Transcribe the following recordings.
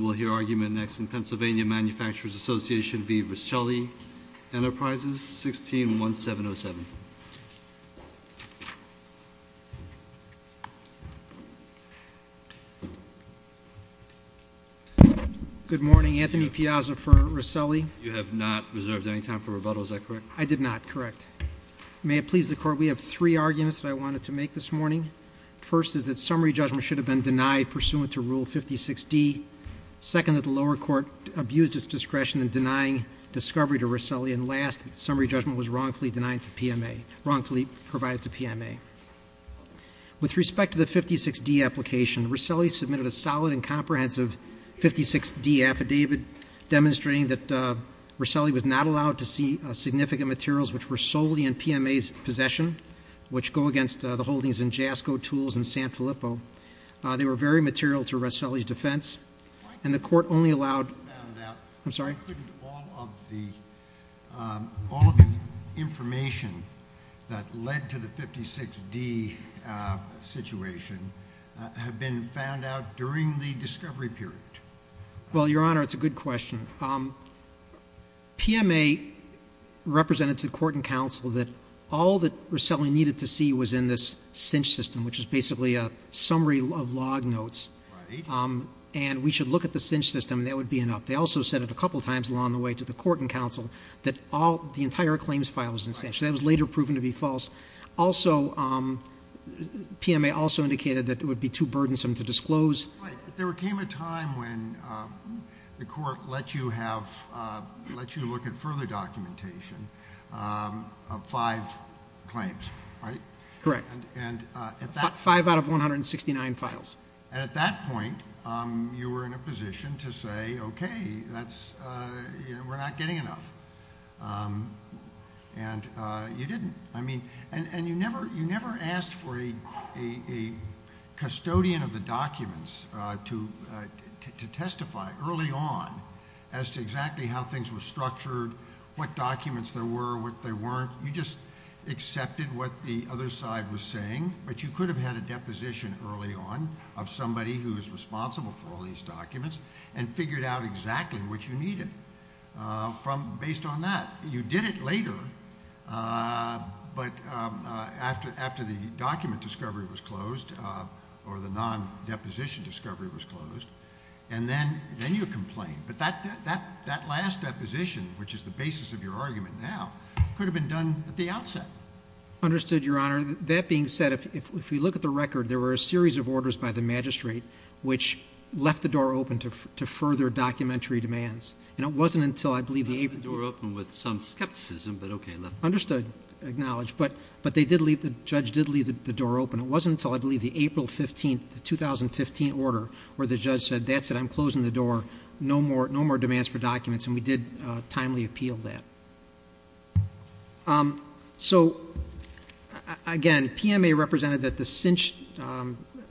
We'll hear argument next in Pennsylvania Manufacturers' Association v. Rosselli Enterprises, 16-1707. Good morning, Anthony Piazza for Rosselli. You have not reserved any time for rebuttal, is that correct? I did not, correct. May it please the Court, we have three arguments that I wanted to make this morning. First is that summary judgment should have been denied pursuant to Rule 56D. Second, that the lower court abused its discretion in denying discovery to Rosselli. And last, that summary judgment was wrongfully denied to PMA, wrongfully provided to PMA. With respect to the 56D application, Rosselli submitted a solid and comprehensive 56D affidavit demonstrating that Rosselli was not allowed to see significant materials which were solely in PMA's possession, which go against the holdings in JASCO Tools in San Filippo. They were very material to Rosselli's defense, and the Court only allowed Why couldn't all of the information that led to the 56D situation have been found out during the discovery period? Well, Your Honor, it's a good question. PMA represented to the Court and Counsel that all that Rosselli needed to see was in this cinch system, which is basically a summary of log notes. Right. And we should look at the cinch system, and that would be enough. They also said it a couple times along the way to the Court and Counsel that all, the entire claims file was in cinch. That was later proven to be false. Also, PMA also indicated that it would be too burdensome to disclose. Right, but there came a time when the Court let you look at further documentation of five claims, right? Correct. Five out of 169 files. And at that point, you were in a position to say, okay, we're not getting enough, and you didn't. I mean, and you never asked for a custodian of the documents to testify early on as to exactly how things were structured, what documents there were, what they weren't. You just accepted what the other side was saying, but you could have had a deposition early on of somebody who is responsible for all these documents and figured out exactly what you needed based on that. You did it later, but after the document discovery was closed, or the non-deposition discovery was closed, and then you complained. But that last deposition, which is the basis of your argument now, could have been done at the outset. Understood, Your Honor. That being said, if we look at the record, there were a series of orders by the magistrate which left the door open to further documentary demands. And it wasn't until, I believe, the April... Left the door open with some skepticism, but okay, left the door open. Understood. Acknowledged. But they did leave, the judge did leave the door open. It wasn't until, I believe, the April 15th, the 2015 order, where the judge said, that's it, I'm closing the door. No more demands for documents. And we did timely appeal that. So, again, PMA represented that the cinched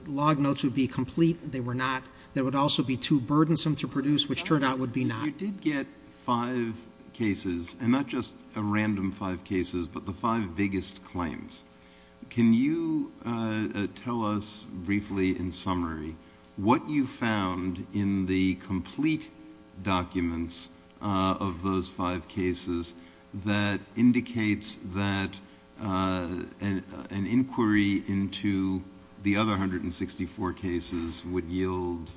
log notes would be complete. They were not. They would also be too burdensome to produce, which turned out would be not. You did get five cases, and not just a random five cases, but the five biggest claims. Can you tell us briefly, in summary, what you found in the complete documents of those five cases that indicates that an inquiry into the other 164 cases would yield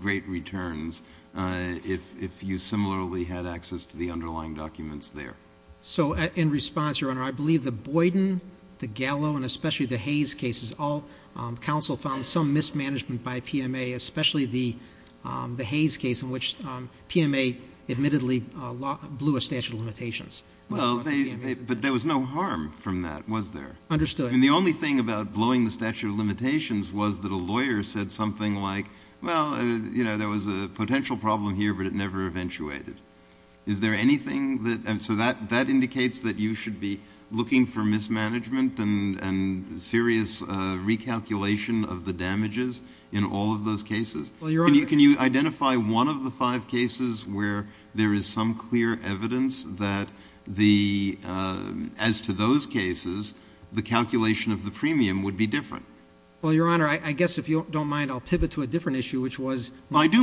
great returns if you similarly had access to the underlying documents there? So, in response, Your Honor, I believe the Boyden, the Gallo, and especially the Hayes cases, all counsel found some mismanagement by PMA, especially the Hayes case in which PMA admittedly blew a statute of limitations. But there was no harm from that, was there? Understood. And the only thing about blowing the statute of limitations was that a lawyer said something like, well, you know, there was a potential problem here, but it never eventuated. Is there anything that — so that indicates that you should be looking for mismanagement and serious recalculation of the damages in all of those cases? Well, Your Honor — Can you identify one of the five cases where there is some clear evidence that the — as to those cases, the calculation of the premium would be different? Well, Your Honor, I guess if you don't mind, I'll pivot to a different issue, which was — because,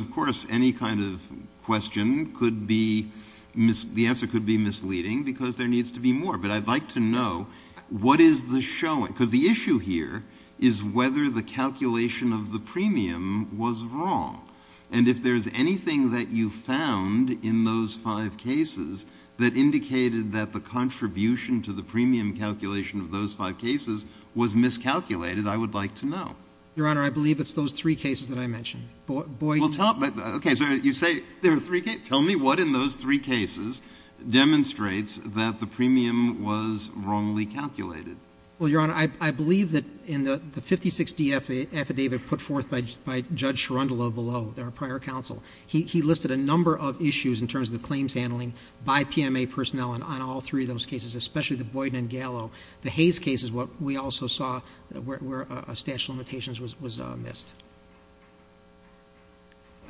of course, any kind of question could be — the answer could be misleading because there needs to be more. But I'd like to know what is the showing? Because the issue here is whether the calculation of the premium was wrong. And if there is anything that you found in those five cases that indicated that the contribution to the premium calculation of those five cases was miscalculated, I would like to know. Your Honor, I believe it's those three cases that I mentioned. Boyden — Well, tell — okay, so you say there are three cases. Tell me what in those three cases demonstrates that the premium was wrongly calculated. Well, Your Honor, I believe that in the 56-D affidavit put forth by Judge Sharundala below, our prior counsel, he listed a number of issues in terms of the claims handling by PMA personnel on all three of those cases, especially the Boyden and Gallo. The Hayes case is what we also saw where a statute of limitations was missed.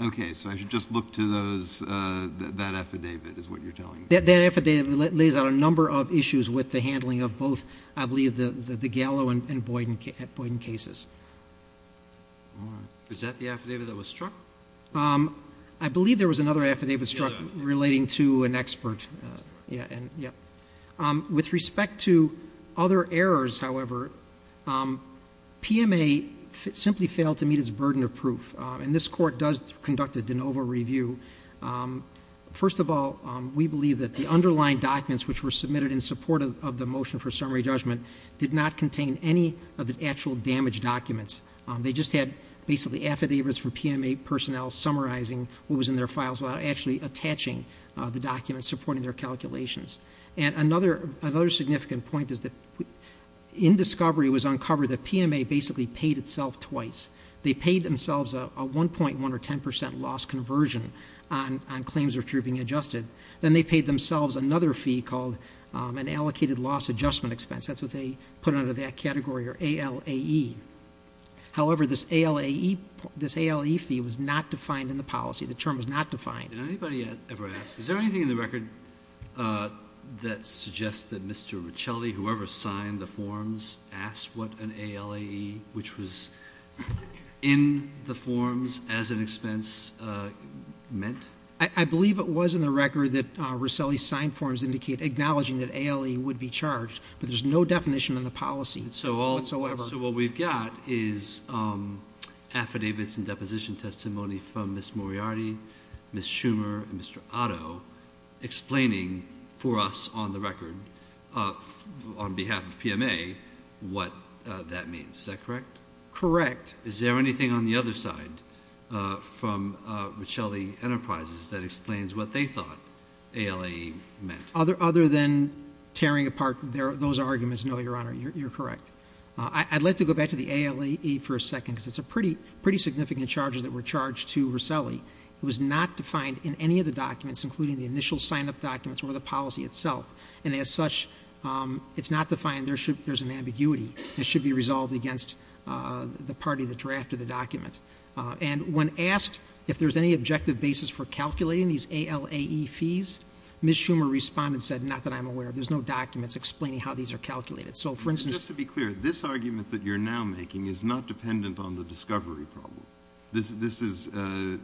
Okay. So I should just look to those — that affidavit is what you're telling me? That affidavit lays out a number of issues with the handling of both, I believe, the Gallo and Boyden cases. Is that the affidavit that was struck? I believe there was another affidavit struck relating to an expert. That's correct. Yeah. With respect to other errors, however, PMA simply failed to meet its burden of proof, and this Court does conduct a de novo review. First of all, we believe that the underlying documents which were submitted in support of the motion for summary judgment did not contain any of the actual damaged documents. They just had basically affidavits from PMA personnel summarizing what was in their files without actually attaching the documents supporting their calculations. And another significant point is that in discovery it was uncovered that PMA basically paid itself twice. They paid themselves a 1.1% or 10% loss conversion on claims retrieving adjusted. Then they paid themselves another fee called an allocated loss adjustment expense. That's what they put under that category, or ALAE. However, this ALAE fee was not defined in the policy. The term was not defined. Did anybody ever ask, is there anything in the record that suggests that Mr. Riccelli, whoever signed the forms, asked what an ALAE, which was in the forms as an expense, meant? I believe it was in the record that Riccelli signed forms acknowledging that ALAE would be charged, but there's no definition in the policy whatsoever. So what we've got is affidavits and deposition testimony from Ms. Moriarty, Ms. Schumer, and Mr. Otto explaining for us on the record on behalf of PMA what that means. Is that correct? Correct. Is there anything on the other side from Riccelli Enterprises that explains what they thought ALAE meant? Other than tearing apart those arguments, no, Your Honor, you're correct. I'd like to go back to the ALAE for a second, because it's a pretty significant charges that were charged to Riccelli. It was not defined in any of the documents, including the initial sign-up documents or the policy itself. And as such, it's not defined. There's an ambiguity. It should be resolved against the party that drafted the document. And when asked if there's any objective basis for calculating these ALAE fees, Ms. Schumer responded and said, not that I'm aware of. There's no documents explaining how these are calculated. Just to be clear, this argument that you're now making is not dependent on the discovery problem. This is an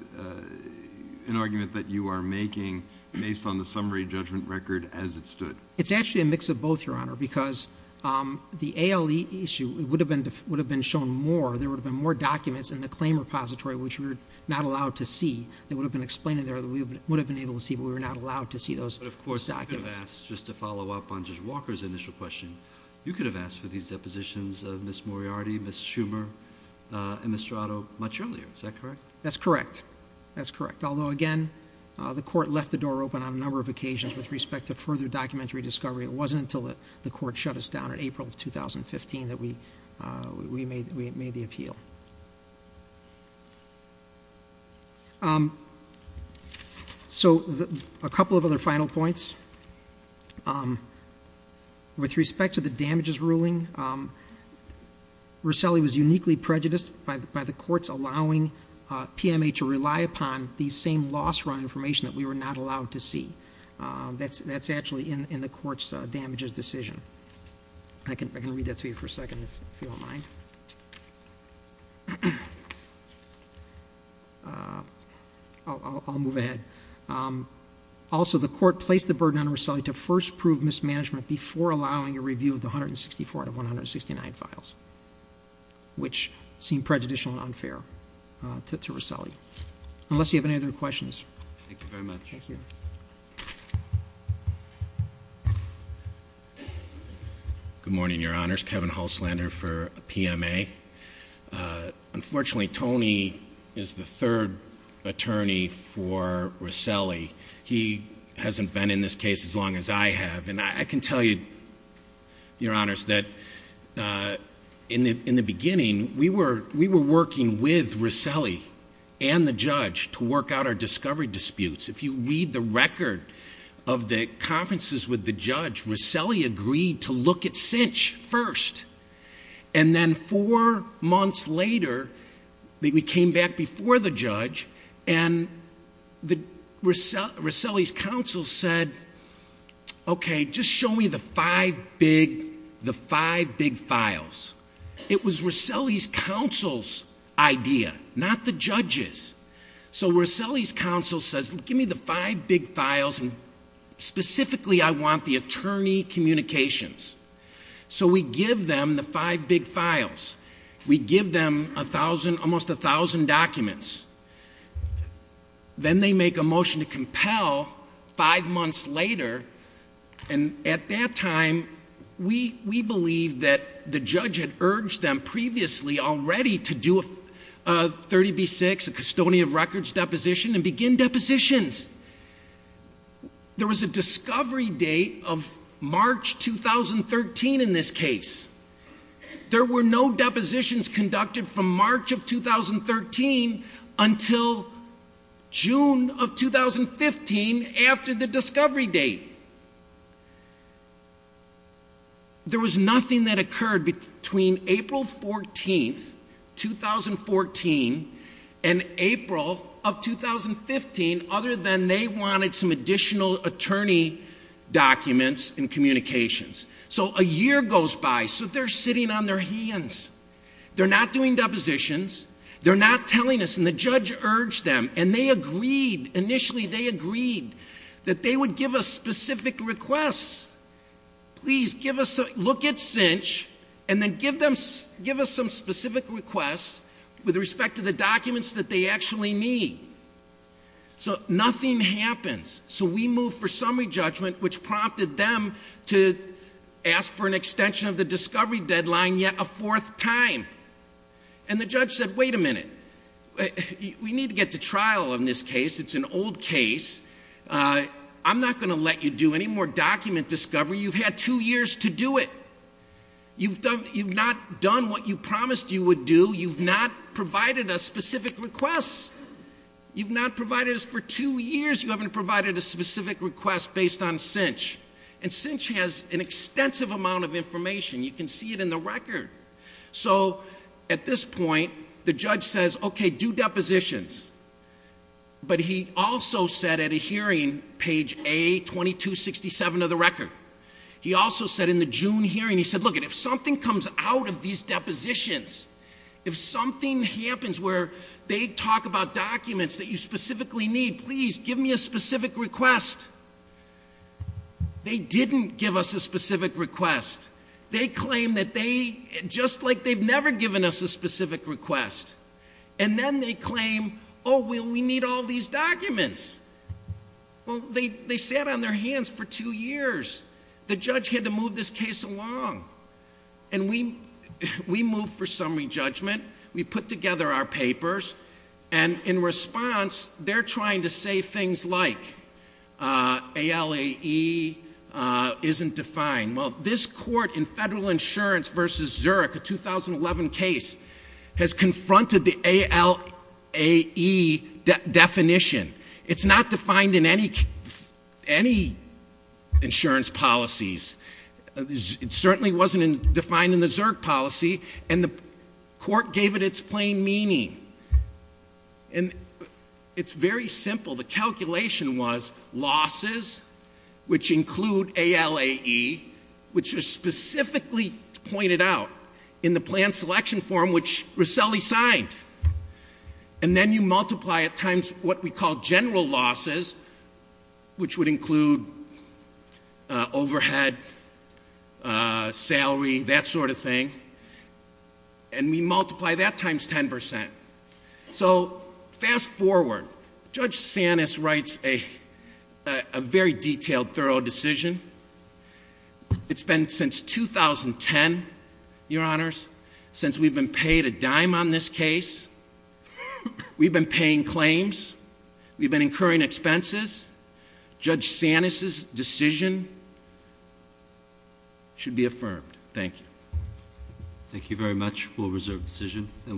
argument that you are making based on the summary judgment record as it stood. It's actually a mix of both, Your Honor, because the ALAE issue would have been shown more. There would have been more documents in the claim repository which we were not allowed to see that would have been explained in there that we would have been able to see, but we were not allowed to see those documents. But, of course, you could have asked, just to follow up on Judge Walker's initial question, you could have asked for these depositions of Ms. Moriarty, Ms. Schumer, and Ms. Strato much earlier. Is that correct? That's correct. That's correct. Although, again, the Court left the door open on a number of occasions with respect to further documentary discovery. It wasn't until the Court shut us down in April of 2015 that we made the appeal. So, a couple of other final points. With respect to the damages ruling, Rosselli was uniquely prejudiced by the courts allowing PMA to rely upon the same loss run information that we were not allowed to see. That's actually in the court's damages decision. I can read that to you for a second if you don't mind. I'll move ahead. Also, the Court placed the burden on Rosselli to first prove mismanagement before allowing a review of the 164 out of 169 files, which seemed prejudicial and unfair to Rosselli. Unless you have any other questions. Thank you very much. Thank you. Good morning, Your Honors. Kevin Hulslander for PMA. Unfortunately, Tony is the third attorney for Rosselli. He hasn't been in this case as long as I have. And I can tell you, Your Honors, that in the beginning, we were working with Rosselli and the judge to work out our discovery disputes. If you read the record of the conferences with the judge, Rosselli agreed to look at Cinch first. And then four months later, we came back before the judge, and Rosselli's counsel said, okay, just show me the five big files. It was Rosselli's counsel's idea, not the judge's. So Rosselli's counsel says, give me the five big files, and specifically I want the attorney communications. So we give them the five big files. We give them almost 1,000 documents. Then they make a motion to compel five months later. And at that time, we believe that the judge had urged them previously already to do a 30B6, a custodian of records deposition, and begin depositions. There was a discovery date of March 2013 in this case. There were no depositions conducted from March of 2013 until June of 2015 after the discovery date. There was nothing that occurred between April 14th, 2014, and April of 2015, other than they wanted some additional attorney documents and communications. So a year goes by. So they're sitting on their hands. They're not doing depositions. They're not telling us. And the judge urged them, and they agreed, initially they agreed, that they would give us specific requests. Please, look at CINCH, and then give us some specific requests with respect to the documents that they actually need. So nothing happens. So we move for summary judgment, which prompted them to ask for an extension of the discovery deadline yet a fourth time. And the judge said, wait a minute. We need to get to trial on this case. It's an old case. I'm not going to let you do any more document discovery. You've had two years to do it. You've not done what you promised you would do. You've not provided us specific requests. You've not provided us for two years. You haven't provided a specific request based on CINCH. And CINCH has an extensive amount of information. You can see it in the record. So at this point, the judge says, okay, do depositions. But he also said at a hearing, page A, 2267 of the record. He also said in the June hearing, he said, look, if something comes out of these depositions, if something happens where they talk about documents that you specifically need, please give me a specific request. They didn't give us a specific request. They claim that they, just like they've never given us a specific request. And then they claim, oh, well, we need all these documents. Well, they sat on their hands for two years. The judge had to move this case along. And we moved for summary judgment. We put together our papers. And in response, they're trying to say things like ALAE isn't defined. Well, this court in Federal Insurance v. Zurich, a 2011 case, has confronted the ALAE definition. It's not defined in any insurance policies. It certainly wasn't defined in the ZURC policy. And the court gave it its plain meaning. And it's very simple. The calculation was losses, which include ALAE, which is specifically pointed out in the plan selection form, which Roselli signed. And then you multiply it times what we call general losses, which would include overhead, salary, that sort of thing. And we multiply that times 10%. So fast forward. Judge Sanis writes a very detailed, thorough decision. It's been since 2010, Your Honors, since we've been paid a dime on this case. We've been paying claims. We've been incurring expenses. Judge Sanis's decision should be affirmed. Thank you. Thank you very much. We'll reserve the decision.